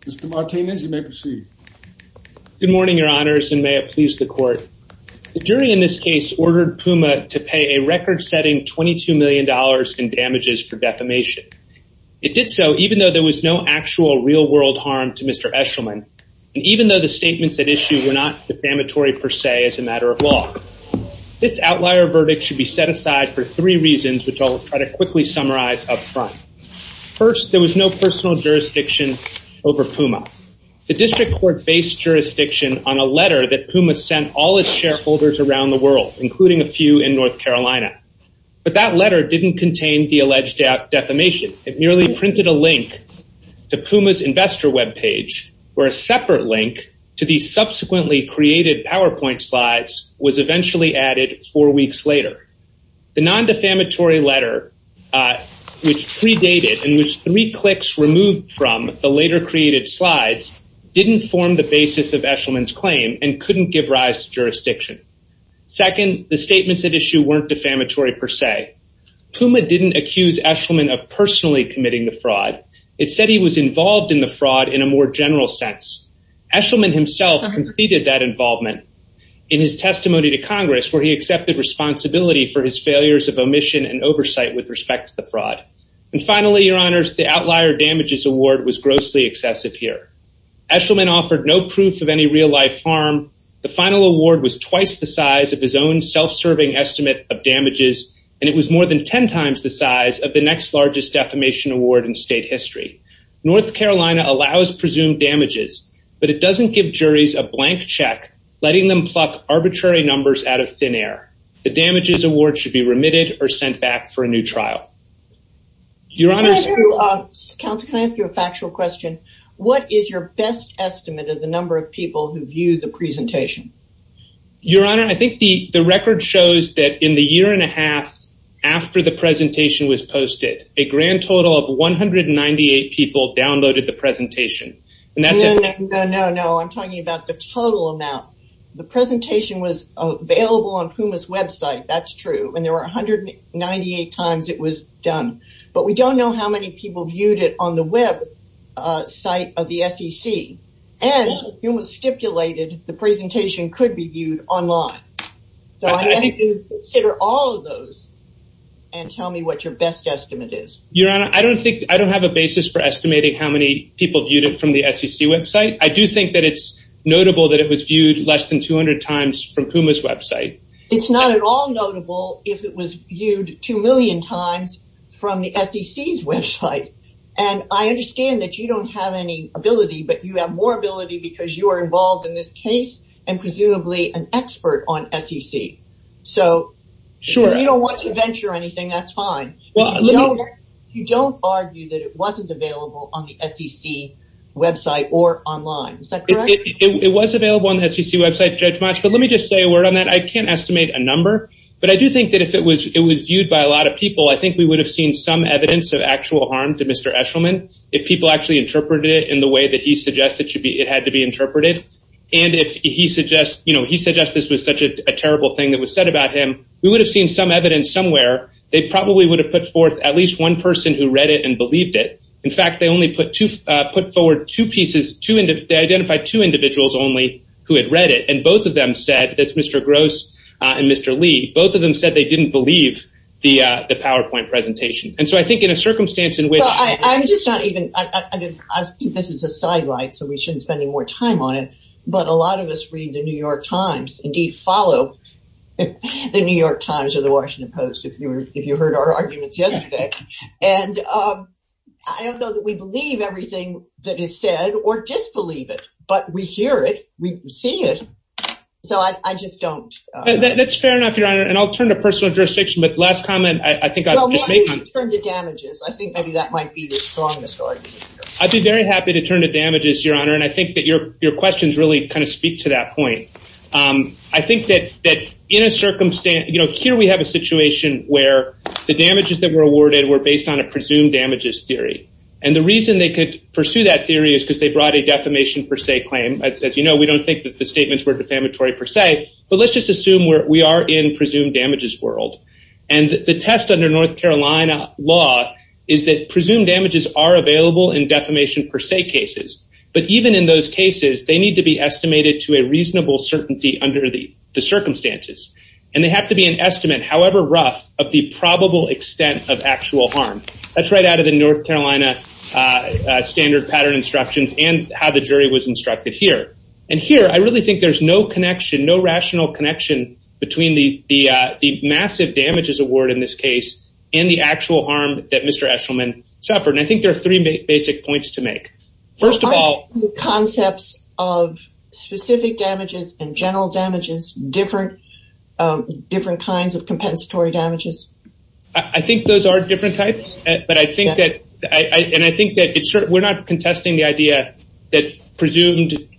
Mr. Martinez you may proceed. Good morning, your honors, and may it please the court. The jury in this case ordered Puma to pay a record-setting 22 million dollars in damages for defamation. It did so even though there was no actual real-world harm to Mr. Eshelman and even though the statements at issue were not defamatory per se as a matter of law. This outlier verdict should be set aside for three reasons which I'll try to quickly summarize up front. First, there was no personal jurisdiction over Puma. The district court based jurisdiction on a letter that Puma sent all its shareholders around the world, including a few in North Carolina, but that letter didn't contain the alleged defamation. It merely printed a link to Puma's investor web page where a separate link The non-defamatory letter which predated and which three clicks removed from the later created slides didn't form the basis of Eshelman's claim and couldn't give rise to jurisdiction. Second, the statements at issue weren't defamatory per se. Puma didn't accuse Eshelman of personally committing the fraud. It said he was involved in the fraud in a more general sense. Eshelman himself conceded that involvement in his testimony to Congress where he accepted responsibility for his failures of omission and oversight with respect to the fraud. And finally, your honors, the outlier damages award was grossly excessive here. Eshelman offered no proof of any real-life harm. The final award was twice the size of his own self-serving estimate of damages and it was more than ten times the size of the next largest defamation award in state history. North pluck arbitrary numbers out of thin air. The damages award should be remitted or sent back for a new trial. Your honor, can I ask you a factual question? What is your best estimate of the number of people who viewed the presentation? Your honor, I think the the record shows that in the year and a half after the presentation was posted, a grand total of 198 people downloaded the presentation and that's No, no, no, I'm talking about the total amount. The presentation was available on PUMA's website, that's true, and there were a hundred and ninety-eight times it was done. But we don't know how many people viewed it on the web site of the SEC and PUMA stipulated the presentation could be viewed online. So I'd like you to consider all of those and tell me what your best estimate is. Your honor, I don't think I don't have a basis for estimating how many people viewed it from the SEC website. I do think that it's notable that it was viewed less than 200 times from PUMA's website. It's not at all notable if it was viewed two million times from the SEC's website. And I understand that you don't have any ability, but you have more ability because you are involved in this case and presumably an expert on SEC. So if you don't want to venture anything, that's fine. You don't argue that it wasn't available on the SEC website or online. Is that correct? It was available on the SEC website, Judge Motsch, but let me just say a word on that. I can't estimate a number, but I do think that if it was it was viewed by a lot of people, I think we would have seen some evidence of actual harm to Mr. Eshelman. If people actually interpreted it in the way that he suggested it should be, it had to be interpreted. And if he suggests, you know, he suggests this was such a terrible thing that was said about him, we would have seen some evidence somewhere. They probably would have put forth at least one person who read it and believed it. In fact, they only put forward two pieces, they identified two individuals only who had read it, and both of them said, that's Mr. Gross and Mr. Lee, both of them said they didn't believe the PowerPoint presentation. And so I think in a circumstance in which... I'm just not even, I think this is a sidelight, so we shouldn't spend any more time on it, but a lot of us read the New York Times, indeed follow the New York Times or the Washington Post, if you heard our believe everything that is said or disbelieve it, but we hear it, we see it, so I just don't. That's fair enough, Your Honor, and I'll turn to personal jurisdiction, but last comment, I think I'll just make one. Well, why don't you turn to damages? I think maybe that might be the strongest argument. I'd be very happy to turn to damages, Your Honor, and I think that your questions really kind of speak to that point. I think that in a circumstance, you know, here we have a situation where the damages that were awarded were based on a presumed damages theory, and the reason they could pursue that theory is because they brought a defamation per se claim. As you know, we don't think that the statements were defamatory per se, but let's just assume we are in presumed damages world, and the test under North Carolina law is that presumed damages are available in defamation per se cases, but even in those cases, they need to be estimated to a reasonable certainty under the circumstances, and they have to be an estimate, however rough, of the North Carolina standard pattern instructions and how the jury was instructed here, and here I really think there's no connection, no rational connection, between the massive damages award in this case and the actual harm that Mr. Eshelman suffered, and I think there are three basic points to make. First of all, the concepts of specific damages and general damages, different kinds of compensatory damages. I think those are different types, but I think that we're not contesting the idea that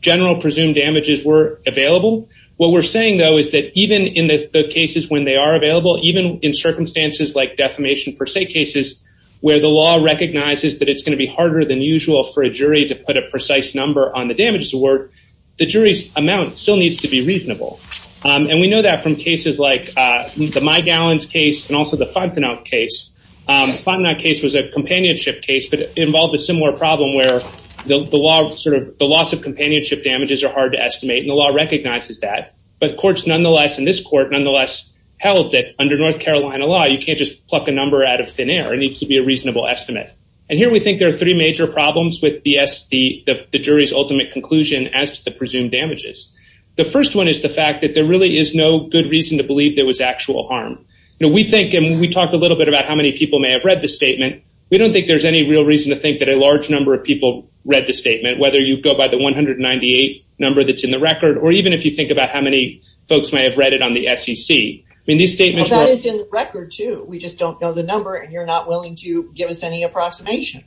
general presumed damages were available. What we're saying, though, is that even in the cases when they are available, even in circumstances like defamation per se cases, where the law recognizes that it's going to be harder than usual for a jury to put a precise number on the damages award, the jury's amount still needs to be reasonable, and we know that from cases like the High Gallons case and also the Fontenot case. The Fontenot case was a companionship case, but involved a similar problem where the loss of companionship damages are hard to estimate, and the law recognizes that, but courts nonetheless, and this court nonetheless, held that under North Carolina law, you can't just pluck a number out of thin air. It needs to be a reasonable estimate, and here we think there are three major problems with the jury's ultimate conclusion as to the presumed damages. The first one is the fact that there really is no good reason to believe there was actual harm. We think, and we talked a little bit about how many people may have read the statement, we don't think there's any real reason to think that a large number of people read the statement, whether you go by the 198 number that's in the record, or even if you think about how many folks may have read it on the SEC. I mean, these statements... That is in the record, too. We just don't know the number, and you're not willing to give us any approximation.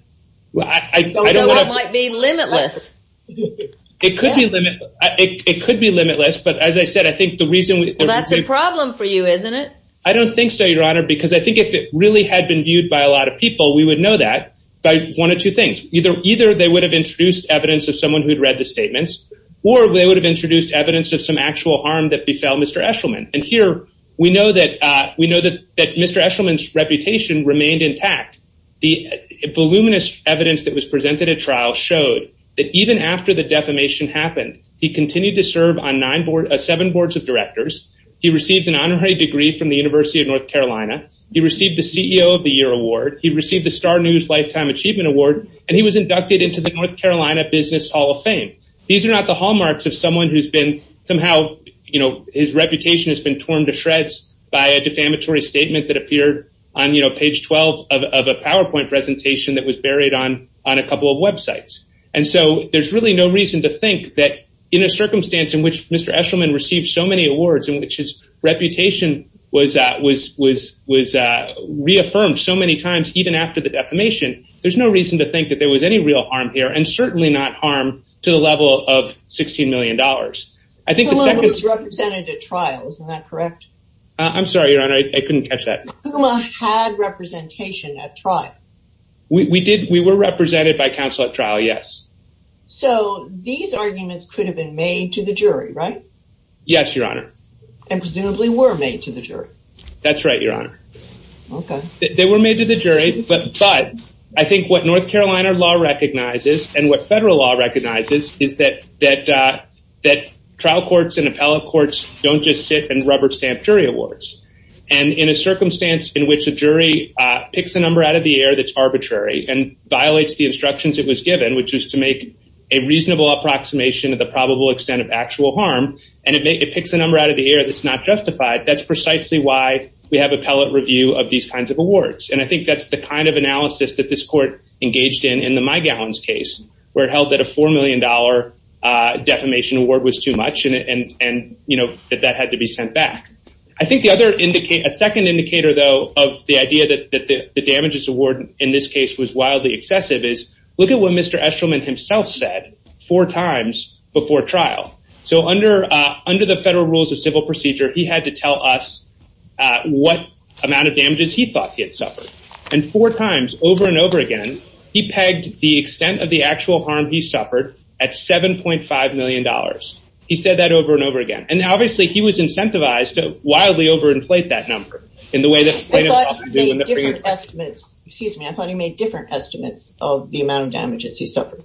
So it might be limitless. It could be limitless, but as I said, I think the reason... Well, that's a problem for you, isn't it? I don't think so, Your Honor, because I think if it really had been viewed by a lot of people, we would know that by one of two things. Either they would have introduced evidence of someone who'd read the statements, or they would have introduced evidence of some actual harm that befell Mr. Eshelman, and here we know that Mr. Eshelman's reputation remained intact. The voluminous evidence that was presented at trial showed that even after the defamation happened, he continued to serve on seven boards of directors. He received an honorary degree from the University of North Carolina. He received the CEO of the Year Award. He received the Star News Lifetime Achievement Award, and he was inducted into the North Carolina Business Hall of Fame. These are not the hallmarks of someone who's been somehow... His reputation has been torn to shreds by a defamatory statement that appeared on page 12 of a PowerPoint presentation that was buried on a couple of websites, and so there's really no reason to think that in a circumstance in which Mr. Eshelman received so many awards, in which his reputation was reaffirmed so many times even after the defamation, there's no reason to think that there was any real harm here, and certainly not harm to the level of $16 million. I think the second... Pucuma was represented at trial, isn't that correct? I'm sorry, Your Honor, I couldn't catch that. Pucuma had representation at trial. We were represented by counsel at trial, yes. So these arguments could have been made to the jury, right? Yes, Your Honor. And presumably were made to the jury. That's right, Your Honor. They were made to the jury, but I think what North Carolina law recognizes, and what federal law recognizes, is that trial courts and appellate courts don't just sit and rubber-stamp jury awards, and in a circumstance in which a jury picks a number out of the air that's arbitrary and violates the instructions it was given, which is to make a reasonable approximation of the probable extent of actual harm, and it picks a number out of the air that's not justified, that's precisely why we have appellate review of these kinds of awards. And I think that's the kind of analysis that this court engaged in in the Mygallon's case, where it held that a $4 million defamation award was too much, and you know, that that had to be sent back. I think the other indicator, a second indicator though, of the idea that the damages award in this case was wildly excessive, is look at what Mr. Eshelman himself said four times before trial. So under the federal rules of civil procedure, he had to tell us what amount of damages he thought he had suffered, and four times, over and over again, he pegged the extent of the actual harm he suffered at $7.5 million. He said that over and over again, and obviously he was incentivized to wildly over-inflate that number in the way that... I thought he made different estimates, excuse me, I thought he made different estimates of the amount of damages he suffered.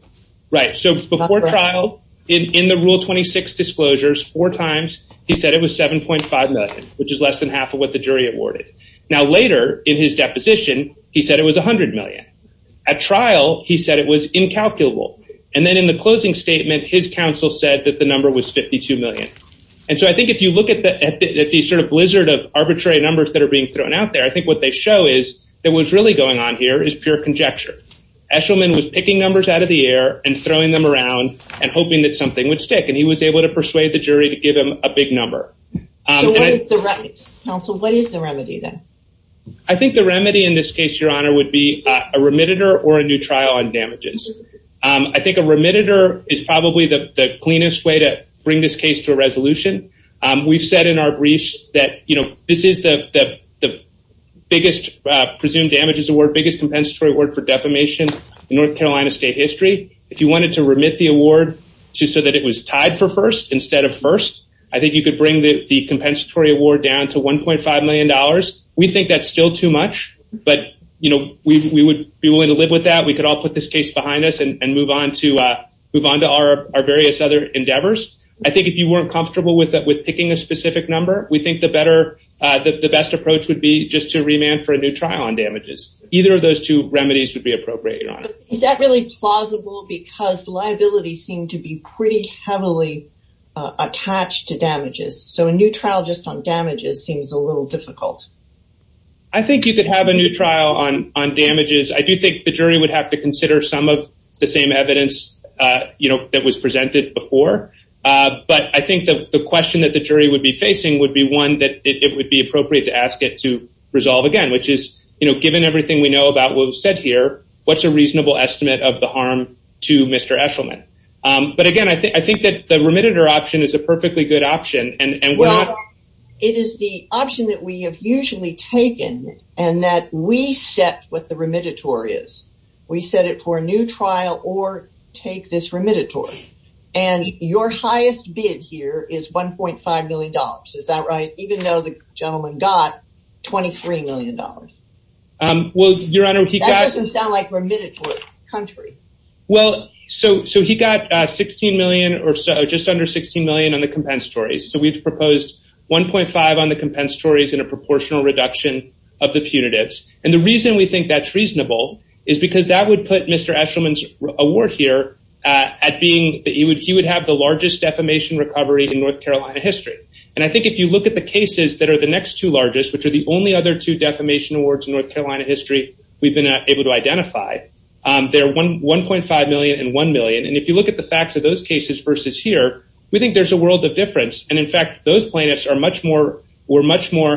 Right, so before trial, in the Rule 26 disclosures, four times, he said it was $7.5 million, which is less than half of what the jury awarded. Now later, in his deposition, he said it was $100 million. At trial, he said it was incalculable, and then in the closing statement, his counsel said that the number was $52 million. And so I think if you look at the sort of blizzard of arbitrary numbers that are being thrown out there, I think what they show is that what's really going on here is pure conjecture. Eshelman was picking numbers out of the air, and throwing them around, and hoping that something would stick, and he was able to persuade the jury to give him a big number. So what is the remedy then? I think the remedy in this case, Your Honor, would be a remediator or a new trial on damages. I think a remediator is probably the cleanest way to bring this case to a resolution. We've said in our briefs that, you know, this is the biggest presumed damages award, biggest compensatory award for defamation in North Carolina state history. If you wanted to remit the award just so that it was tied for first instead of first, I think you could bring the compensatory award down to $1.5 million. We think that's still too much, but, you know, we would be willing to live with that. We could all put this case behind us and move on to our various other endeavors. I think if you weren't comfortable with picking a specific number, we think the best approach would be just to remand for a new trial on damages. Either of those two remedies would be appropriate, Your Honor. Is that really plausible? Because liabilities seem to be pretty heavily attached to damages, so a trial just on damages seems a little difficult. I think you could have a new trial on damages. I do think the jury would have to consider some of the same evidence, you know, that was presented before, but I think the question that the jury would be facing would be one that it would be appropriate to ask it to resolve again, which is, you know, given everything we know about what was said here, what's a reasonable estimate of the harm to Mr. Eshelman? But again, I think that the remediator option is a perfectly good option. Well, it is the option that we have usually taken and that we set what the remediatory is. We set it for a new trial or take this remediatory, and your highest bid here is 1.5 million dollars. Is that right? Even though the gentleman got 23 million dollars. Well, Your Honor, that doesn't sound like remediatory country. Well, so he got 16 million or so, just under 16 million on the compensatory. So we've proposed 1.5 on the compensatory and a proportional reduction of the punitives. And the reason we think that's reasonable is because that would put Mr. Eshelman's award here at being that he would have the largest defamation recovery in North Carolina history. And I think if you look at the cases that are the next two largest, which are the only other two defamation awards in North Carolina history we've been able to identify, they're 1.5 million and 1 million. If you look at the facts of those cases versus here, we think there's a world of difference. And in fact, those plaintiffs are much more, were much more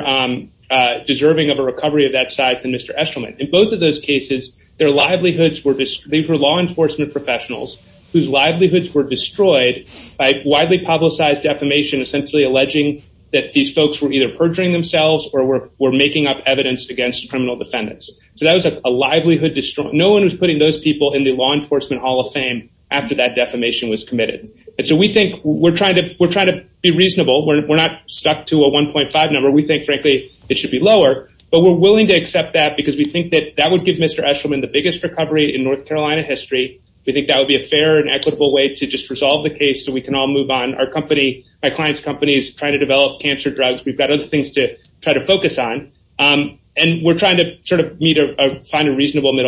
deserving of a recovery of that size than Mr. Eshelman. In both of those cases, their livelihoods were, they were law enforcement professionals whose livelihoods were destroyed by widely publicized defamation essentially alleging that these folks were either perjuring themselves or were making up evidence against criminal defendants. So that was a livelihood destroyed. No one was putting those people in the law enforcement Hall of Fame after that defamation was committed. And so we think we're trying to, we're trying to be reasonable. We're not stuck to a 1.5 number. We think frankly it should be lower, but we're willing to accept that because we think that that would give Mr. Eshelman the biggest recovery in North Carolina history. We think that would be a fair and equitable way to just resolve the case so we can all move on. Our company, my client's company is trying to develop cancer drugs. We've got other things to try to focus on. And we're trying to sort of meet a, find a reasonable to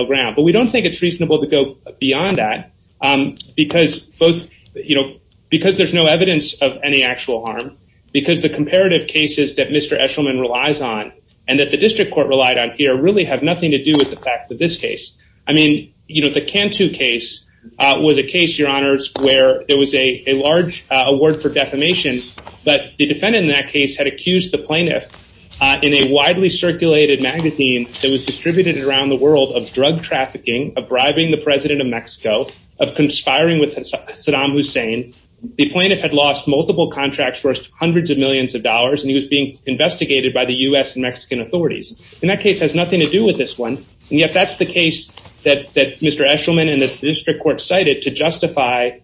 go beyond that because both, you know, because there's no evidence of any actual harm, because the comparative cases that Mr. Eshelman relies on and that the district court relied on here really have nothing to do with the fact that this case, I mean, you know, the Cantu case was a case, your honors, where there was a large award for defamation, but the defendant in that case had accused the plaintiff in a widely circulated magazine that was of bribing the president of Mexico, of conspiring with Saddam Hussein. The plaintiff had lost multiple contracts for hundreds of millions of dollars and he was being investigated by the U.S. and Mexican authorities. And that case has nothing to do with this one. And yet that's the case that Mr. Eshelman and the district court cited to justify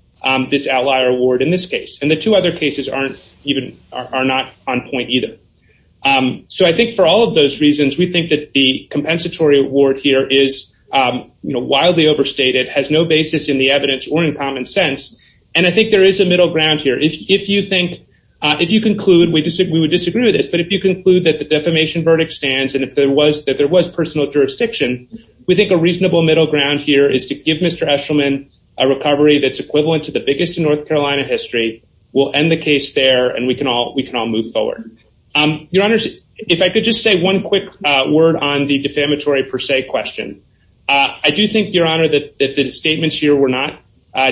this outlier award in this case. And the two other cases aren't even, are not on point either. So I think for all of those reasons, we think that the compensatory award here is, you know, wildly overstated, has no basis in the evidence or in common sense. And I think there is a middle ground here. If you think, if you conclude, we would disagree with this, but if you conclude that the defamation verdict stands and if there was, that there was personal jurisdiction, we think a reasonable middle ground here is to give Mr. Eshelman a recovery that's equivalent to the biggest in North Carolina history. We'll end the case there and we can all, we can all move forward. Your Honor, if I could just say one quick word on the defamatory per se question. I do think, Your Honor, that the statements here were not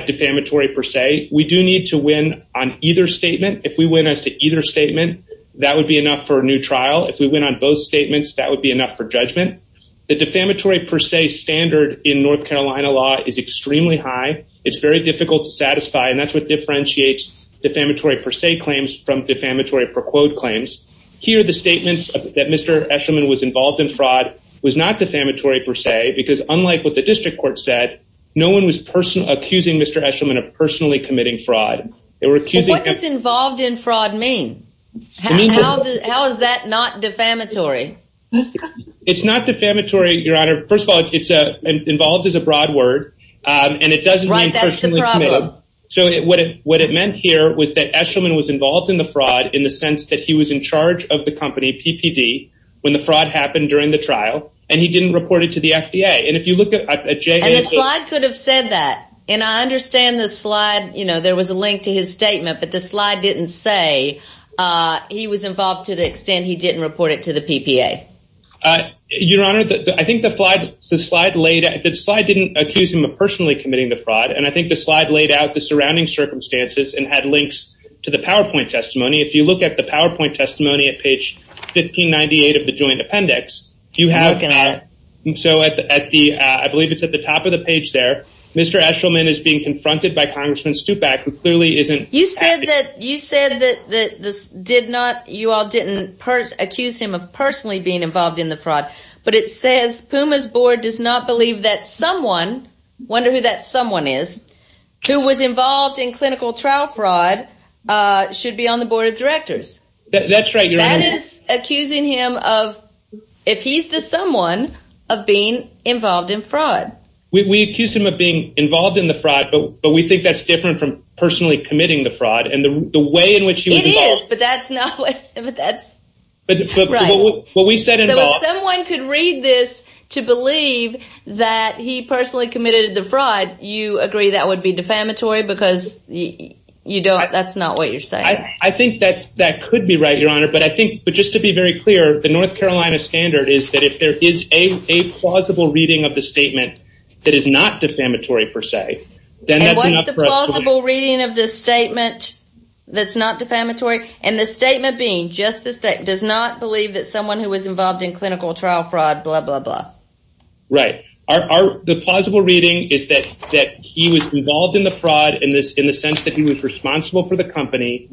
defamatory per se. We do need to win on either statement. If we win as to either statement, that would be enough for a new trial. If we win on both statements, that would be enough for judgment. The defamatory per se standard in North Carolina law is extremely high. It's very difficult to satisfy and that's what differentiates defamatory per se claims from defamatory per quote claims. Here, the statements that Mr. Eshelman was involved in fraud was not defamatory per se because unlike what the district court said, no one was personal, accusing Mr. Eshelman of personally committing fraud. They were accusing him. What does involved in fraud mean? How is that not defamatory? It's not defamatory, Your Honor. First of all, it's a, involved is a broad word, um, and it doesn't mean that Mr. Eshelman was involved in the fraud in the sense that he was in charge of the company, PPD, when the fraud happened during the trial and he didn't report it to the FDA. And if you look at the slide could have said that and I understand the slide, you know, there was a link to his statement, but the slide didn't say, uh, he was involved to the extent he didn't report it to the PPA. Uh, Your Honor, I think the slide, the slide laid out, the slide didn't accuse him of personally committing the fraud. And I think the link's to the PowerPoint testimony. If you look at the PowerPoint testimony at page 1598 of the joint appendix, you have, so at the, I believe it's at the top of the page there, Mr. Eshelman is being confronted by Congressman Stupak, who clearly isn't. You said that, you said that, that this did not, you all didn't per, accuse him of personally being involved in the fraud, but it says PUMA's board does not believe that someone, wonder who that someone is, who was involved in clinical trial fraud, uh, should be on the board of directors. That's right, Your Honor. That is accusing him of, if he's the someone of being involved in fraud. We accused him of being involved in the fraud, but we think that's different from personally committing the fraud and the way in which he was involved. It is, but that's not what, but that's. But what we said involved. So if someone could read this to believe that he personally committed the fraud, you agree that would be defamatory because you don't, that's not what you're saying. I think that that could be right, Your Honor, but I think, but just to be very clear, the North Carolina standard is that if there is a plausible reading of the statement that is not defamatory per se, then that's enough for us to believe. And what's the plausible reading of the statement that's not defamatory? And the statement being, just the statement, does not believe that someone who was involved in clinical trial fraud, blah, blah, blah. Right. Are the plausible reading is that, that he was involved in the fraud in this, in the sense that he was responsible for the company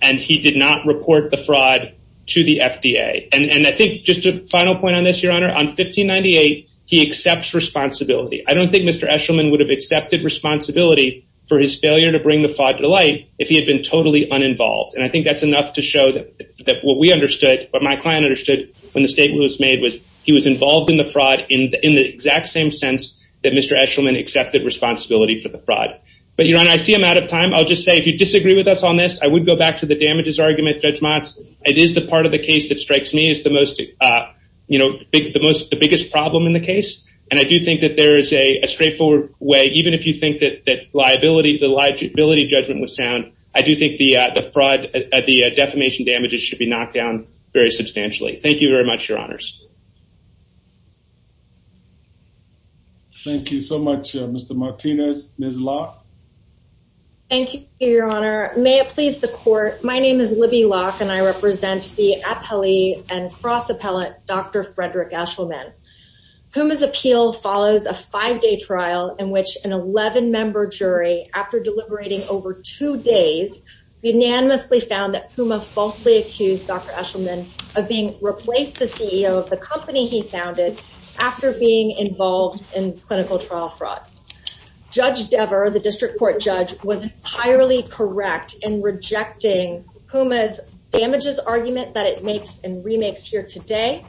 and he did not report the fraud to the FDA. And I think just a final point on this, Your Honor, on 1598, he accepts responsibility. I don't think Mr. Eshelman would have accepted responsibility for his failure to bring the fraud to light if he had been totally uninvolved. And I think that's enough to show that what we understood, in the exact same sense that Mr. Eshelman accepted responsibility for the fraud. But Your Honor, I see I'm out of time. I'll just say, if you disagree with us on this, I would go back to the damages argument, Judge Motz. It is the part of the case that strikes me as the most, you know, the most, the biggest problem in the case. And I do think that there is a straightforward way, even if you think that, that liability, the liability judgment was sound, I do think the, the fraud, the defamation damages should be knocked down very substantially. Thank you very much, Your Honors. Thank you so much, Mr. Martinez. Ms. Locke? Thank you, Your Honor. May it please the Court, my name is Libby Locke, and I represent the appellee and cross appellate, Dr. Frederick Eshelman. Puma's appeal follows a five-day trial in which an 11-member jury, after deliberating over two days, unanimously found that Puma falsely accused Dr. Eshelman of defamation, which he found it after being involved in clinical trial fraud. Judge Dever, as a district court judge, was entirely correct in rejecting Puma's damages argument that it makes and remakes here today,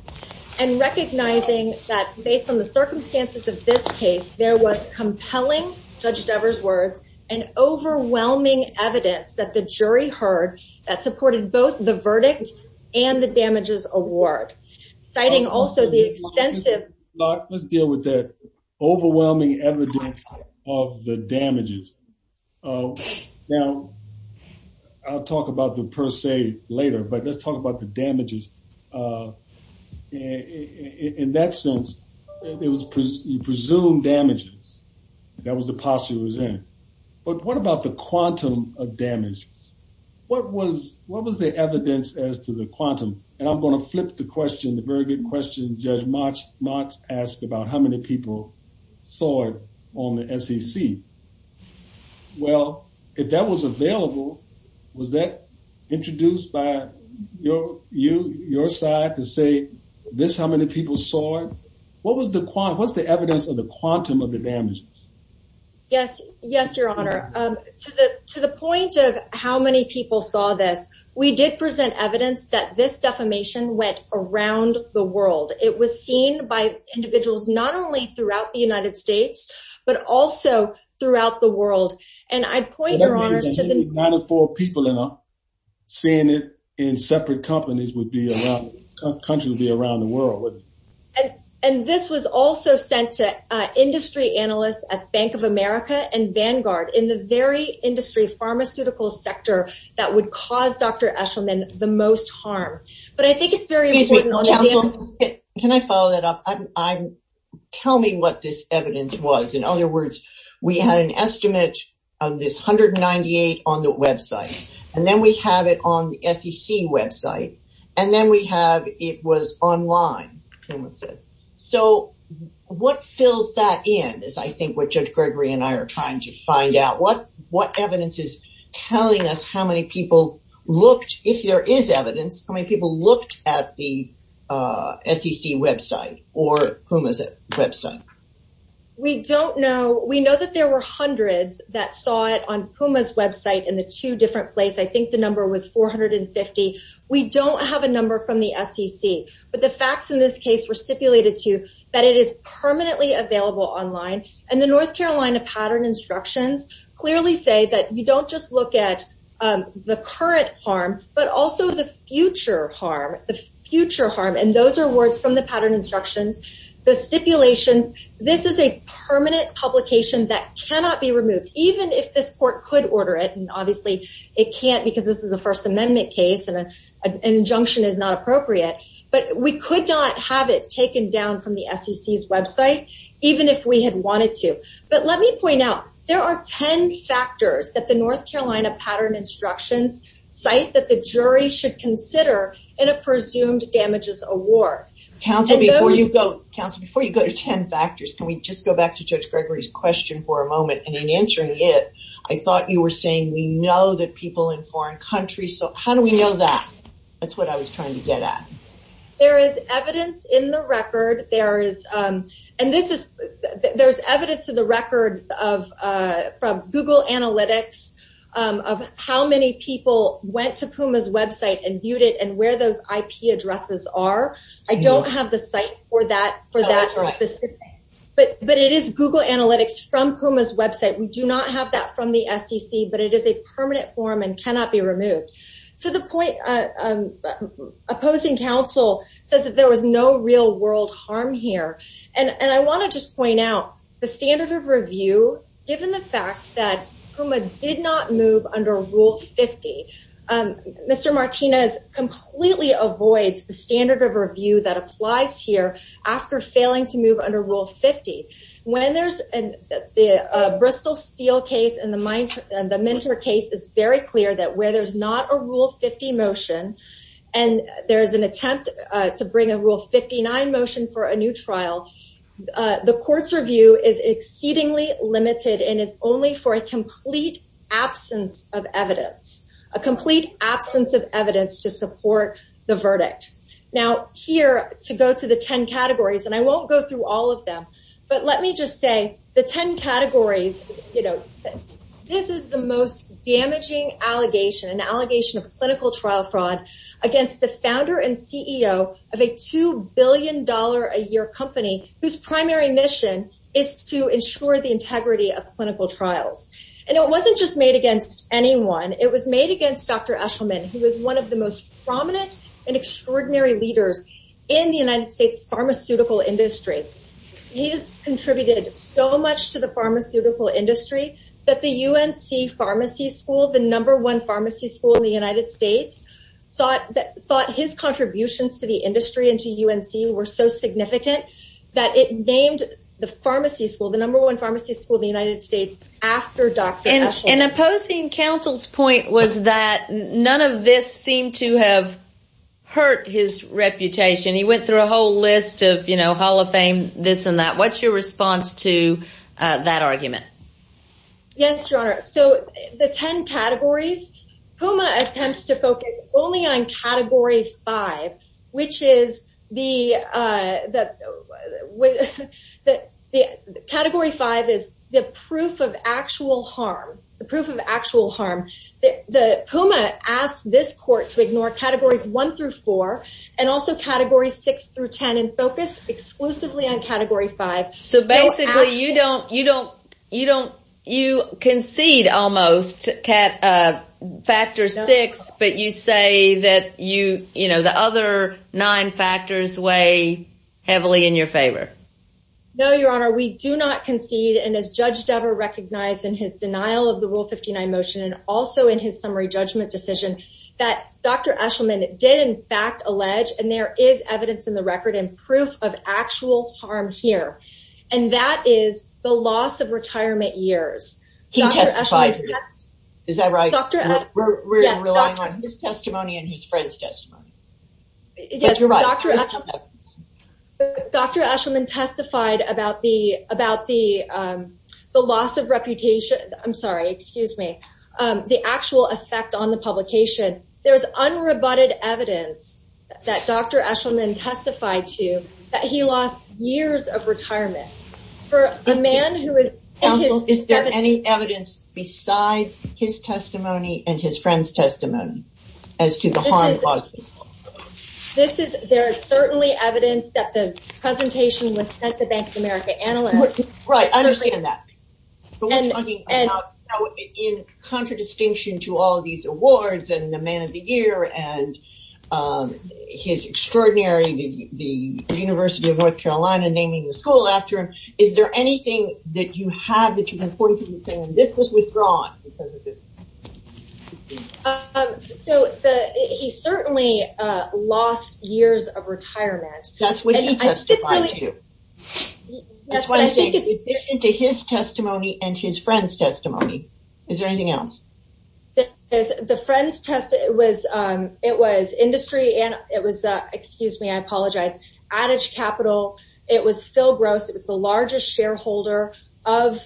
and recognizing that based on the circumstances of this case, there was compelling, Judge Dever's words, and overwhelming evidence that the jury heard that supported both the verdict and the damages award. Citing also the extensive... Locke, let's deal with that overwhelming evidence of the damages. Now, I'll talk about the per se later, but let's talk about the damages. In that sense, it was presumed damages. That was the posture it was in. But what about the quantum of the damages? What was the evidence as to the quantum? And I'm going to flip the question, the very good question Judge Motz asked about how many people saw it on the SEC. Well, if that was available, was that introduced by your side to say this, how many people saw it? What was the evidence of the quantum of the damages? Yes. Yes, Your Honor. To the point of how many people saw this, we did present evidence that this defamation went around the world. It was seen by individuals not only throughout the United States, but also throughout the world. And I'd point, Your Honor, to the... Ninety-four people seeing it in separate companies would be around, the country would be around the world. And this was also sent to industry analysts at Bank of America and Vanguard in the very industry pharmaceutical sector that would cause Dr. Eshelman the most harm. But I think it's very important... Can I follow that up? Tell me what this evidence was. In other words, we had an estimate of this 198 on the website, and then we have it on the SEC website. And then we have, it was online, Puma said. So what fills that in is, I think, what Judge Gregory and I are trying to find out. What evidence is telling us how many people looked, if there is evidence, how many people looked at the SEC website or Puma's website? We don't know. We know that there were hundreds that saw it on Puma's website in the two different places. I think the number was 450. We don't have a number from the SEC. But the facts in this case were stipulated to you that it is permanently available online. And the North Carolina pattern instructions clearly say that you don't just look at the current harm, but also the future harm, the future harm. And those are words from the pattern instructions. The stipulations, this is a permanent publication that cannot be removed, even if this court could order it. And obviously, it can't because this is a First Amendment case and an injunction is not appropriate. But we could not have it taken down from the SEC's website, even if we had wanted to. But let me point out, there are 10 factors that the North Carolina pattern instructions cite that the jury should consider in a presumed damages award. Counsel, before you go, counsel, before you go to 10 factors, can we just go back to Judge Gregory's question for a moment? And in answering it, I thought you were saying we know that people in foreign countries, so how do we know that? That's what I was trying to get at. There is evidence in the record, there is. And this is, there's evidence of the record of, from Google Analytics, of how many people went to Puma's website and viewed it and where those IP addresses are. I don't have the site for that, for Google Analytics from Puma's website. We do not have that from the SEC, but it is a permanent form and cannot be removed. To the point, opposing counsel says that there was no real world harm here. And I want to just point out, the standard of review, given the fact that Puma did not move under Rule 50, Mr. Martinez completely avoids the standard of review that applies here after failing to move under Rule 50. When there's the Bristol Steel case and the Minter case is very clear that where there's not a Rule 50 motion, and there is an attempt to bring a Rule 59 motion for a new trial, the court's review is exceedingly limited and is only for a complete absence of evidence, a complete absence of evidence to support the verdict. Now, here, to go to the 10 categories, and I won't go through all of them, but let me just say the 10 categories, you know, this is the most damaging allegation, an allegation of clinical trial fraud against the founder and CEO of a $2 billion a year company whose primary mission is to ensure the integrity of clinical trials. And it wasn't just made against anyone. It was made against Dr. Eshelman, who is one of the most prominent and extraordinary leaders in the United States pharmaceutical industry. He has contributed so much to the pharmaceutical industry that the UNC Pharmacy School, the number one pharmacy school in the United States, thought that thought his contributions to the industry and to UNC were so significant that it named the pharmacy school, the number one pharmacy school in the United States after Dr. Eshelman. And opposing counsel's point was that none of this seemed to have hurt his reputation. He went through a whole list of, you know, Hall of Fame, this and that. What's your response to that argument? Yes, Your Honor. So the 10 categories, PUMA attempts to focus only on Category 5, which is the, the Category 5 is the proof of actual harm, the proof of actual harm. The PUMA asked this court to ignore Categories 1 through 4, and also Categories 6 through 10 and focus exclusively on Category 5. So basically, you don't, you don't, you don't, you concede almost Category 6, but you say that you, you know, the other nine factors weigh heavily in your favor. No, Your Honor, we do not concede and as Judge Dever recognized in his denial of the Rule 59 motion and also in his summary judgment decision, that Dr. Eshelman did in fact allege and there is evidence in the record and proof of actual harm here. And that is the loss of retirement years. He testified. Is that right? We're relying on his testimony and his friend's testimony. Dr. Eshelman testified about the, about the, the loss of reputation. I'm sorry, excuse me. The actual effect on the publication. There's unrebutted evidence that Dr. Eshelman testified to that he lost years of retirement. For a man who counsels, is there any evidence besides his testimony and his friend's testimony as to the harm caused? This is, there is certainly evidence that the presentation was sent to Bank of America analysts. Right, I understand that. But we're talking about in contradistinction to all these awards and the man of the year and his extraordinary, the University of New York. Do you have that you have 40 people saying, this was withdrawn? So, he certainly lost years of retirement. That's what he testified to. That's what I say, to his testimony and his friend's testimony. Is there anything else? The friend's testimony, it was, it was industry and it was, excuse me, I was a shareholder of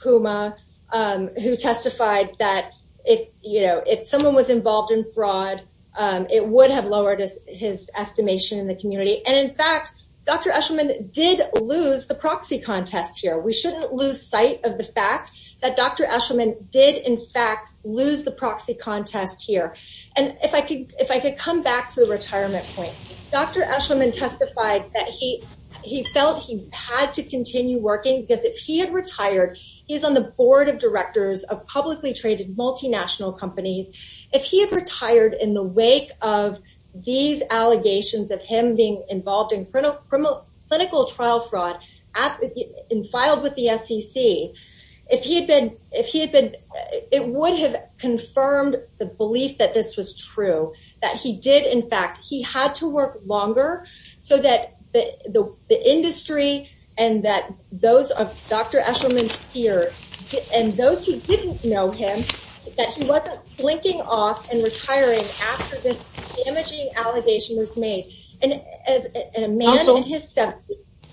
PUMA, who testified that if, you know, if someone was involved in fraud, it would have lowered his estimation in the community. And in fact, Dr. Eshelman did lose the proxy contest here. We shouldn't lose sight of the fact that Dr. Eshelman did, in fact, lose the proxy contest here. And if I could, if I could come back to the retirement point, Dr. Eshelman testified that he, he felt he had to continue working because if he had retired, he's on the board of directors of publicly traded multinational companies. If he had retired in the wake of these allegations of him being involved in criminal, criminal, clinical trial fraud, and filed with the SEC, if he had been, if he had been, it would have confirmed the belief that this was true, that he did, in fact, he had to work longer so that the industry and that those of Dr. Eshelman's peers, and those who didn't know him, that he wasn't slinking off and retiring after this damaging allegation was made. And as a man in his 70s,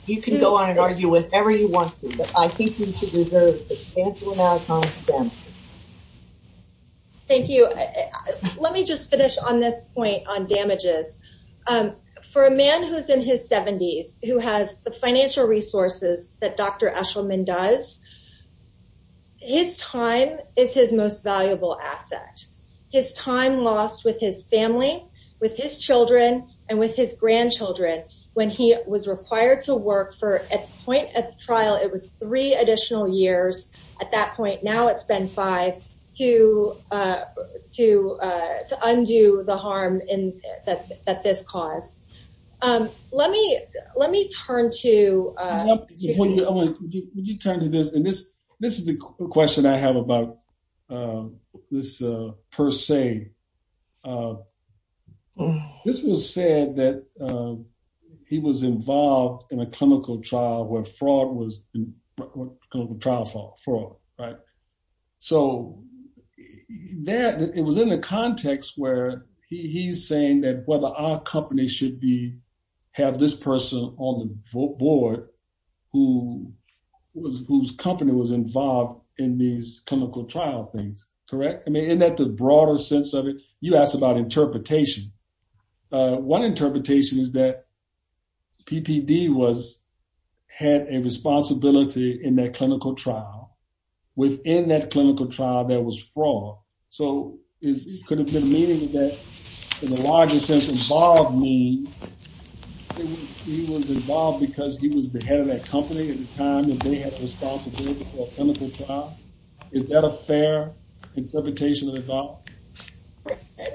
you can go on and argue with everyone, but I think we should reserve the substantial amount of time for them. Thank you. Let me just finish on this point on damages. For a man who's in his 70s, who has the financial resources that Dr. Eshelman does, his time is his most valuable asset. His time lost with his family, with his children, and with his grandchildren, when he was required to work for, at the point of trial, it that point, now it's been five, to, to, to undo the harm that this caused. Let me, let me turn to, Would you turn to this, and this, this is the question I have about this, per se. This was said that he was involved in a clinical trial where fraud was, clinical trial fraud, fraud, right? So, that, it was in the context where he's saying that whether our company should be, have this person on the board, who was, whose company was involved in these clinical trial things, correct? I mean, in that, the broader sense of it, you asked about interpretation. One interpretation is that PPD was, had a responsibility in that clinical trial. Within that clinical trial, there was fraud. So, it could have been a meeting that, in the larger sense, involved me. He was involved because he was the head of that company at the time that they had the responsibility for a clinical trial. Is that a fair interpretation of the doctrine?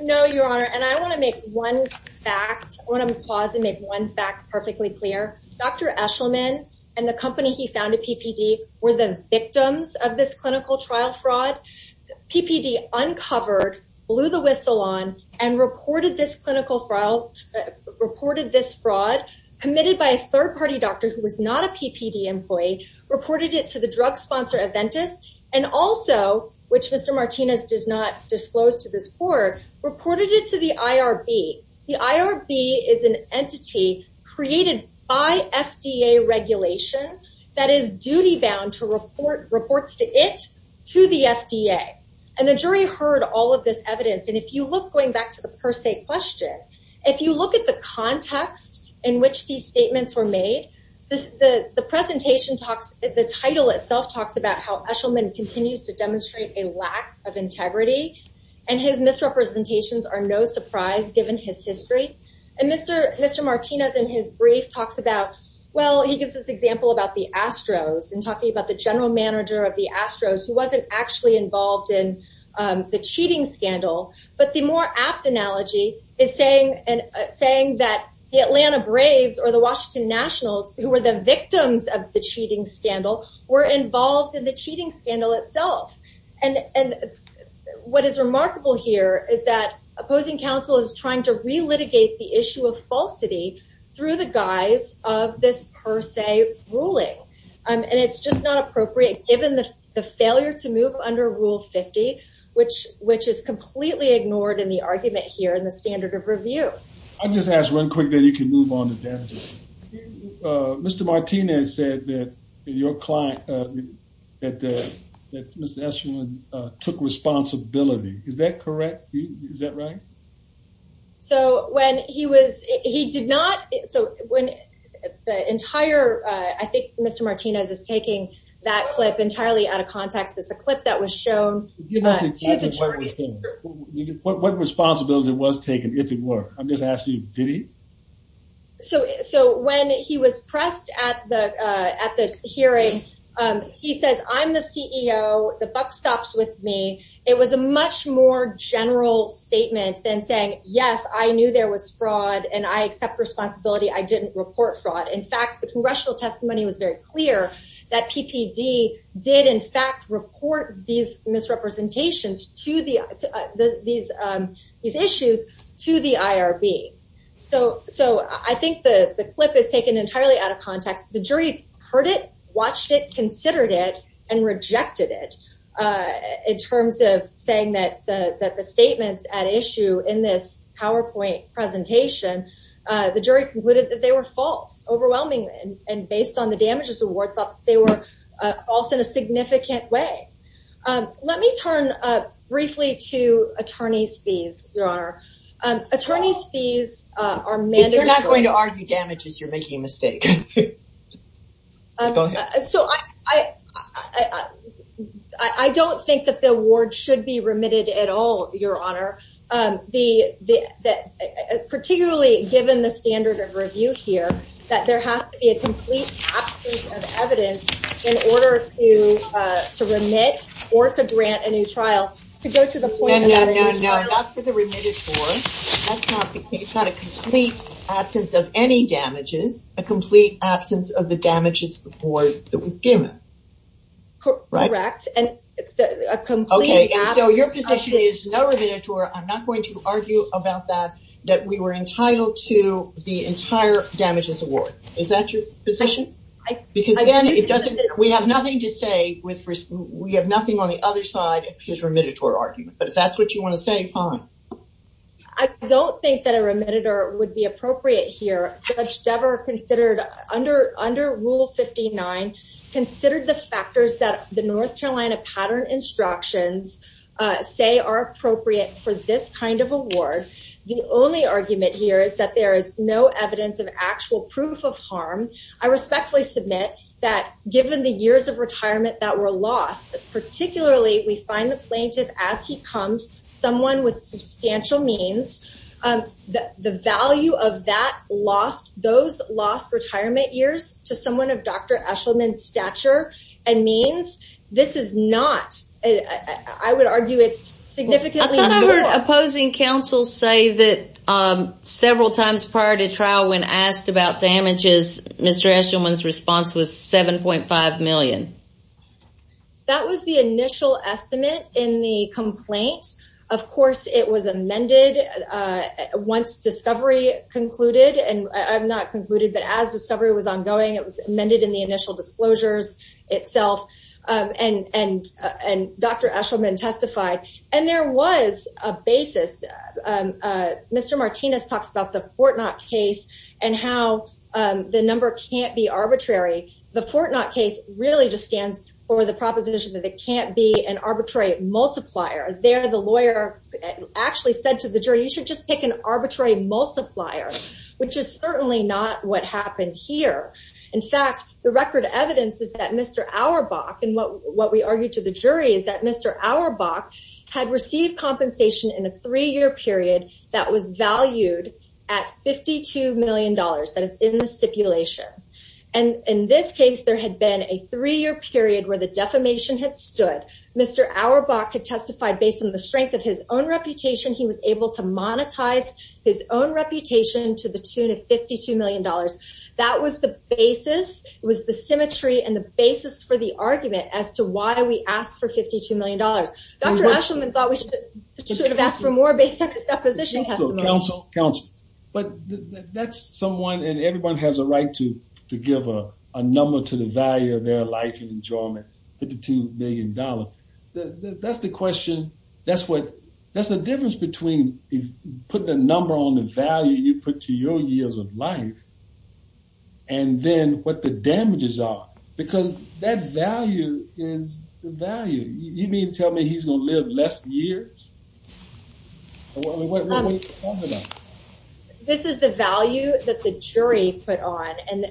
No, Your Honor, and I want to make one fact, I want to pause and make one fact perfectly clear. Dr. Eshelman and the company he founded, PPD, were the victims of this clinical trial fraud. PPD uncovered, blew the whistle on, and reported this clinical trial, reported this fraud, committed by a third party doctor who was not a PPD employee, reported it to the drug sponsor, Aventis, and also, which Mr. Martinez does not disclose to this court, reported it to the IRB. The IRB is an entity created by FDA regulation that is duty-bound to report reports to it, to the FDA. And the jury heard all of this evidence. And if you look, going back to the per se question, if you look at the context in which these statements were made, the presentation talks, the title itself talks about how Eshelman continues to demonstrate a lack of integrity, and his misrepresentations are no surprise given his history. And Mr. Martinez, in his brief, talks about, well, he gives this example about the Astros and talking about the general manager of the Astros, who wasn't actually involved in the cheating scandal. But the more apt analogy is saying that the Atlanta Braves or the Washington Nationals, who were the victims of the cheating scandal, were involved in the cheating scandal itself. And what is remarkable here is that opposing counsel is trying to relitigate the issue of falsity through the guise of this per se ruling. And it's just not appropriate, given the failure to move under Rule 50, which is completely ignored in the argument here in the standard of review. I'll just ask real quick, then you can move on to damages. Mr. Martinez said that your client, that Mr. Eshelman took responsibility. Is that correct? Is that right? So when he was, he did not. So when the entire, I think Mr. Martinez is taking that clip entirely out of context. It's a clip that was shown. What responsibility was taken, if it were? I'm just asking, did he? So when he was pressed at the hearing, he says, I'm the CEO, the buck stops with me. It was a much more general statement than saying, yes, I knew there was fraud and I accept responsibility. I didn't report fraud. In fact, the congressional testimony was very clear that PPD did in fact report these misrepresentations to the, these issues to the IRB. So I think the clip is taken entirely out of context. The jury heard it, watched it, considered it, and rejected it. In terms of saying that the statements at issue in this PowerPoint presentation, the jury concluded that they were false, overwhelmingly. And based on the damages award, thought they were false in a significant way. Let me turn briefly to attorney's fees, Your Honor. Attorney's fees are mandatory. You're not going to argue damages, you're making a mistake. So I don't think that the award should be remitted at all, Your Honor. Particularly given the standard of review here, that there has to be a complete absence of evidence in order to, to remit or to grant a new trial. To go to the point- No, no, no, no. Not for the remitted award. That's not the case. It's not a complete absence of any damages, a complete absence of the damages award that we've given. Correct. And a complete absence- So your position is no remittance award. I'm not going to argue about that, that we were entitled to the entire damages award. Is that your position? Because again, it doesn't, we have nothing to say with, we have nothing on the other side of his remittance argument. But if that's what you want to say, fine. I don't think that a remittance would be appropriate here. Judge Dever considered under, under Rule 59, considered the factors that the North Carolina pattern instructions say are appropriate for this kind of award. The only argument here is that there is no evidence of actual proof of harm. I respectfully submit that given the years of retirement that were lost, particularly we find the plaintiff as he comes, someone with substantial means, the value of that lost, those lost retirement years to someone of Dr. Eshelman's stature and means, this is not, I would argue it's I thought I heard opposing counsel say that several times prior to trial when asked about damages, Mr. Eshelman's response was 7.5 million. That was the initial estimate in the complaint. Of course, it was amended once discovery concluded, and I'm not concluded, but as discovery was ongoing, it was amended in the initial disclosures itself. And Dr. Eshelman testified. And there was a basis. Mr. Martinez talks about the Fortnacht case and how the number can't be arbitrary. The Fortnacht case really just stands for the proposition that it can't be an arbitrary multiplier. There, the lawyer actually said to the jury, you should just pick an arbitrary multiplier, which is certainly not what happened here. In fact, the record evidence is Mr. Auerbach, and what we argued to the jury is that Mr. Auerbach had received compensation in a three-year period that was valued at $52 million that is in the stipulation. And in this case, there had been a three-year period where the defamation had stood. Mr. Auerbach had testified based on the strength of his own reputation. He was able to monetize his own reputation to the tune of $52 million. That was the basis. It was the symmetry and the basis for the argument as to why we asked for $52 million. Dr. Eshelman thought we should have asked for more based on his deposition testimony. Counsel, counsel. But that's someone, and everyone has a right to give a number to the value of their life and enjoyment, $52 million. That's the question. That's the difference between putting a number on the value you put to your years of life, and then what the damages are. Because that value is the value. You mean to tell me he's going to live less years? What are we talking about? This is the value that the jury put on, and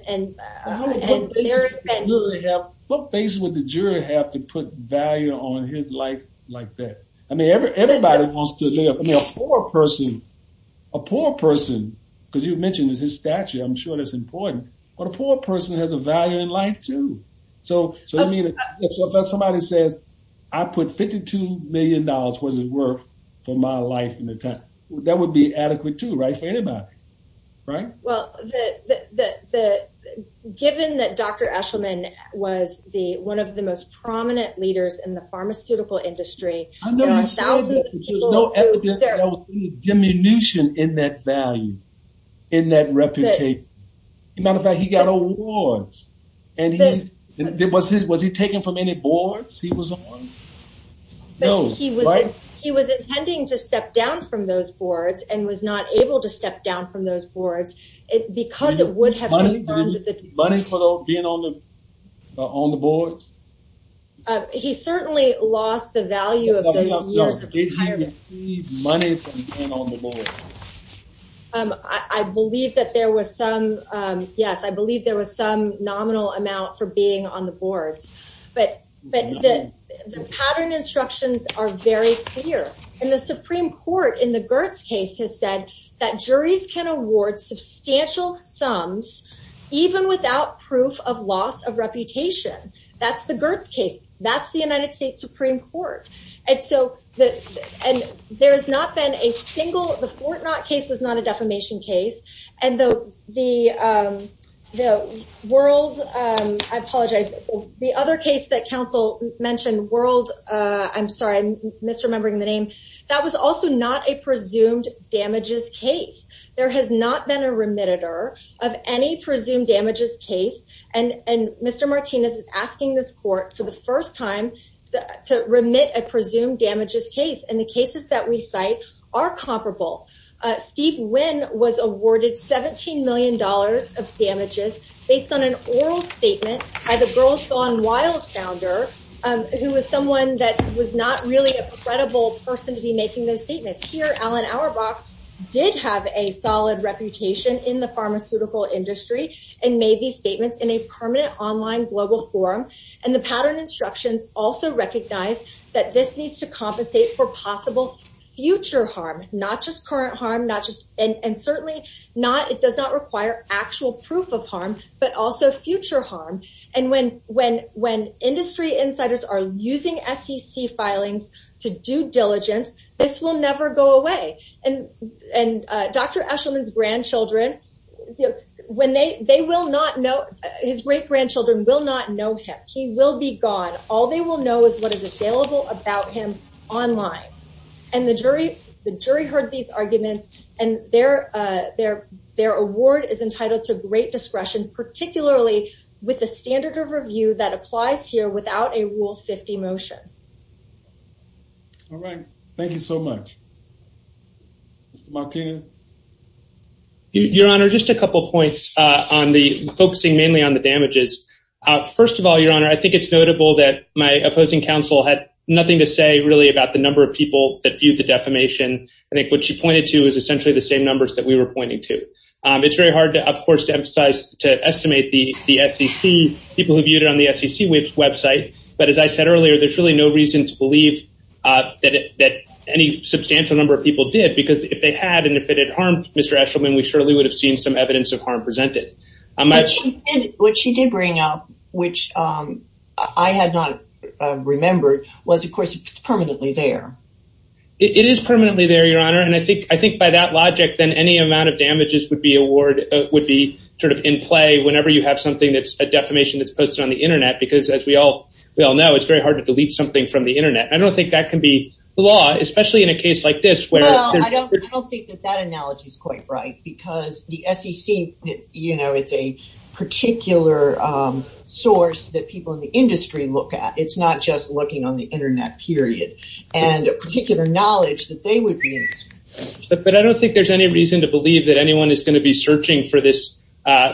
there is... What basis would the jury have to put value on his life like that? I mean, everybody wants to live. I mean, a poor person, a poor person, because you I'm sure that's important, but a poor person has a value in life too. So if somebody says, I put $52 million, what is it worth for my life in the time? That would be adequate too, right, for anybody, right? Well, given that Dr. Eshelman was one of the most prominent leaders in the pharmaceutical industry, there are thousands of people who... As a matter of fact, he got awards. Was he taken from any boards he was on? He was intending to step down from those boards and was not able to step down from those boards because it would have... Did he receive money for being on the boards? He certainly lost the value of those years of retirement. Did he receive money for being on the boards? I believe that there was some... Yes, I believe there was some nominal amount for being on the boards, but the pattern instructions are very clear. And the Supreme Court in the Gertz case has said that juries can award substantial sums even without proof of loss of reputation. That's the Gertz case. That's the United States Supreme Court. And so there has not been a single... The Fort Knot case was not a defamation case. And the World... I apologize. The other case that counsel mentioned, World... I'm sorry, I'm misremembering the name. That was also not a presumed damages case. There has not been a remitted of any presumed damages case. And Mr. Martinez is asking this court for the first time to remit a presumed damages case. And the cases that we cite are comparable. Steve Wynn was awarded $17 million of damages based on an oral statement by the Girls Gone Wild founder, who was someone that was not really a credible person to be making those statements. Here, Alan Auerbach did have a solid reputation in the pharmaceutical industry and made these statements in a permanent online global forum. And the pattern instructions also recognize that this needs to compensate for possible future harm, not just current harm, not just... And certainly not... It does not require actual proof of harm, but also future harm. And when industry insiders are using SEC filings to do diligence, this will never go away. And Dr. Eshelman's grandchildren, when they... They will not know... His great-grandchildren will not know him. He will be gone. All they will know is what is available about him online. And the jury heard these arguments and their award is entitled to great discretion, particularly with the standard of review that applies here without a Rule 50 motion. All right. Thank you so much. Mr. Martinez? Your Honor, just a couple of points on the... Focusing mainly on the damages. First of all, Your Honor, I think it's notable that my opposing counsel had nothing to say really about the number of people that viewed the defamation. I think what she pointed to is essentially the same numbers that we were pointing to. It's very hard, of course, to emphasize, to estimate the SEC, people who viewed it on the SEC website. But as I said earlier, there's really no reason to believe that any substantial number of people did because if they had, and if it had harmed Mr. Eshelman, we surely would have seen some evidence of harm presented. What she did bring up, which I had not remembered, was, of course, it's permanently there. It is permanently there, Your Honor. And I think by that logic, then any amount of damages would be award... Would be sort of in play whenever you have something that's a defamation that's posted on the internet. Because as we all know, it's very hard to delete something from the internet. I don't think that can be the law, especially in a case like this, where there's... Well, I don't think that that analogy is quite right, because the SEC, you know, it's a particular source that people in the industry look at. It's not just looking on the internet, period. And a particular knowledge that they would be... But I don't think there's any reason to believe that anyone is going to be searching for this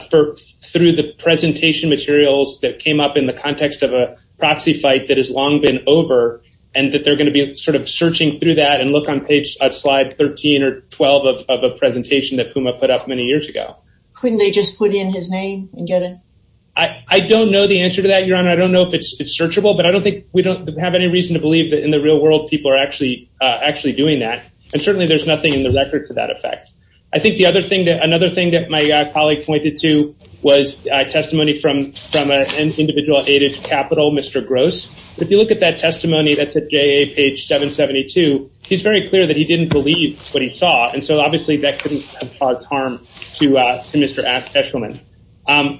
through the presentation materials that came up in the context of a proxy fight that has long been over, and that they're going to be sort of searching through that and look on page slide 13 or 12 of a presentation that Puma put up many years ago. Couldn't they just put in his name and get it? I don't know the answer to that, Your Honor. I don't know if it's searchable, but I don't think we don't have any reason to believe that in the real world people are actually doing that. And certainly there's nothing in the record to that effect. I think the other thing that... Another thing that my colleague pointed to was a testimony from an individual aided capital, Mr. Gross. But if you look at that testimony, that's at JA page 772, he's very clear that he didn't believe what he saw. And so obviously that couldn't have caused harm to Mr. Eshelman.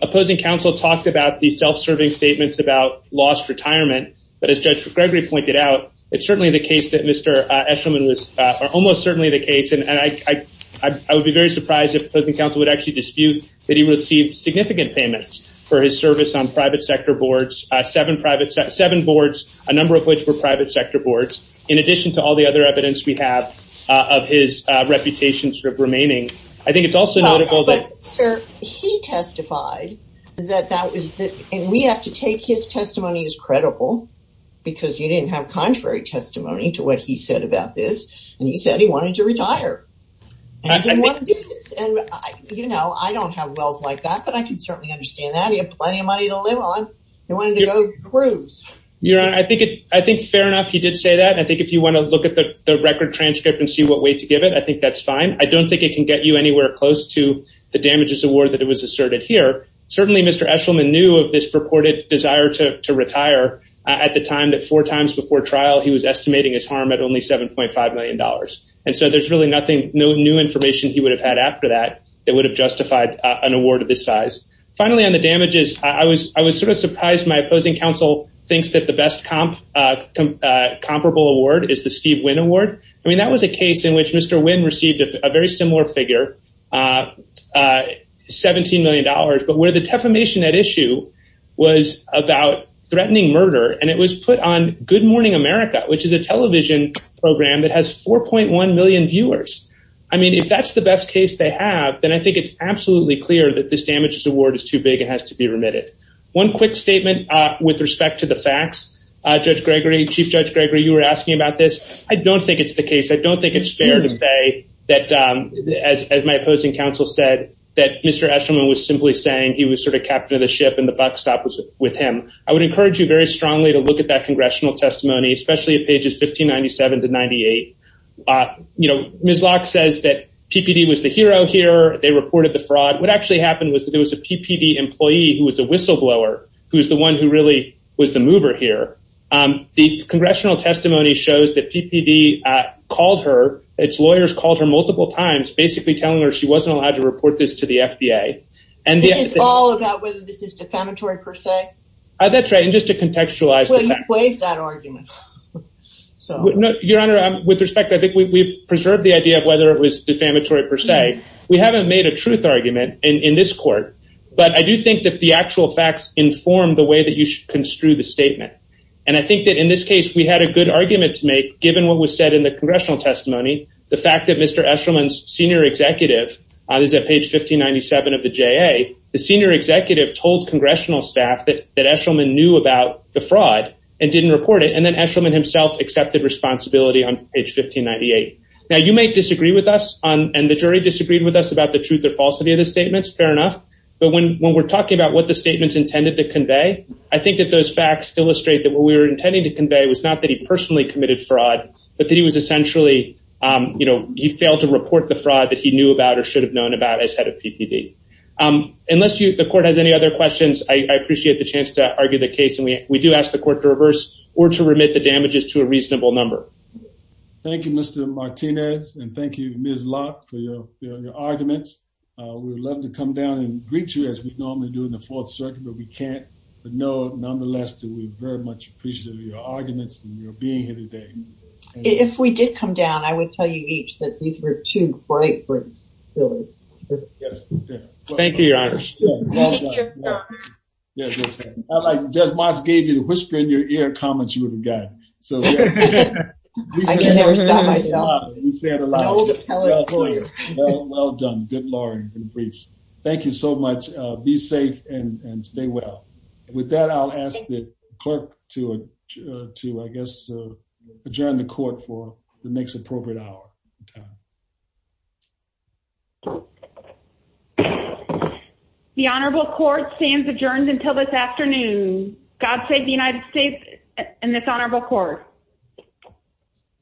Opposing counsel talked about the self-serving statements about lost retirement. But as Judge Gregory pointed out, it's certainly the case that Mr. Eshelman was... Almost certainly the case. And I would be very surprised if opposing counsel would actually dispute that he received significant payments for his service on private sector boards, seven boards, a number of which were private sector boards, in addition to all the other evidence we have of his reputation sort of remaining. I think it's also notable that... But sir, he testified that that was the... And we have to take his testimony as credible because you didn't have contrary testimony to what he said about this. And he said he wanted to retire. And he didn't want to do this. And I don't have wealth like that, but I can certainly understand that. He had plenty of money to live on. He wanted to go cruise. Your Honor, I think fair enough. He did say that. I think if you want to look at the record transcript and see what way to give it, I think that's fine. I don't think it can get you anywhere close to the damages award that it was asserted here. Certainly, Mr. Eshelman knew of this purported desire to retire at the time that four times before trial, he was estimating his harm at only $7.5 million. And so there's really nothing new information he would have had after that that would have justified an award of this size. Finally, on the damages, I was sort of surprised my opposing counsel thinks that the best comparable award is the Steve Wynn Award. I mean, that was a case in which Mr. Wynn received a very similar figure, $17 million. But where the defamation at issue was about threatening murder and it was put on Good Morning America, which is a television program that has 4.1 million viewers. I mean, if that's the best case they have, then I think it's absolutely clear that this damages award is too big and has to be remitted. One quick statement with respect to the facts, Judge Gregory, Chief Judge Gregory, you were asking about this. I don't think it's the case. I don't think it's fair to say that, as my opposing counsel said, that Mr. Eshelman was simply saying he was sort of captain of the ship and the buckstop was with him. I would encourage you very strongly to look at that congressional testimony, especially at pages 1597 to 98. Ms. Locke says that PPD was the hero here. They reported the fraud. What actually happened was that there was a PPD employee who was a whistleblower, who was the one who really was the mover here. The congressional testimony shows that PPD called her, its lawyers called her multiple times, basically telling her she wasn't allowed to report this to the FDA. And this is all about whether this is defamatory per se? That's right. And just to contextualize that argument. Your Honor, with respect, I think we've preserved the idea of whether it was defamatory per se. We haven't made a truth argument in this court, but I do think that the actual facts inform the way that you should construe the statement. And I think that in this case, we had a good argument to make, given what was said in the congressional testimony, the fact that Mr. Eshelman's senior executive, this is at page 1597 of the JA, the senior executive told congressional staff that Eshelman knew about the fraud and didn't report it. And then Eshelman himself accepted responsibility on page 1598. Now you may disagree with us and the jury disagreed with us about the truth or falsity of the statements. Fair enough. But when we're talking about what the statements intended to convey, I think that those facts illustrate that what we were intending to convey was not that he personally committed fraud, but that he was essentially, he failed to report the fraud that he knew about or should have known about as head of PPD. Unless the court has any other questions, I appreciate the chance to argue the case. And we do ask the court to reverse or to remit the damages to a reasonable number. Thank you, Mr. Martinez. And thank you, Ms. Locke for your arguments. We would love to come down and greet you as we normally do in the Fourth Circuit, but we can't. But nonetheless, we very much appreciate your arguments and your being here today. If we did come down, I would tell you each that these were two great briefs, really. Yes. Thank you, your honor. Thank you, your honor. Yeah, just like Judge Moss gave you the whisper in your ear comments you would have gotten. So, yeah. I can never stop myself. You said a lot. No, Kelly. Well done. Good lord. Good briefs. Thank you so much. Be safe and stay well. With that, I'll ask the clerk to, I guess, adjourn the court for the next appropriate hour. The honorable court stands adjourned until this afternoon. God save the United States and this honorable court.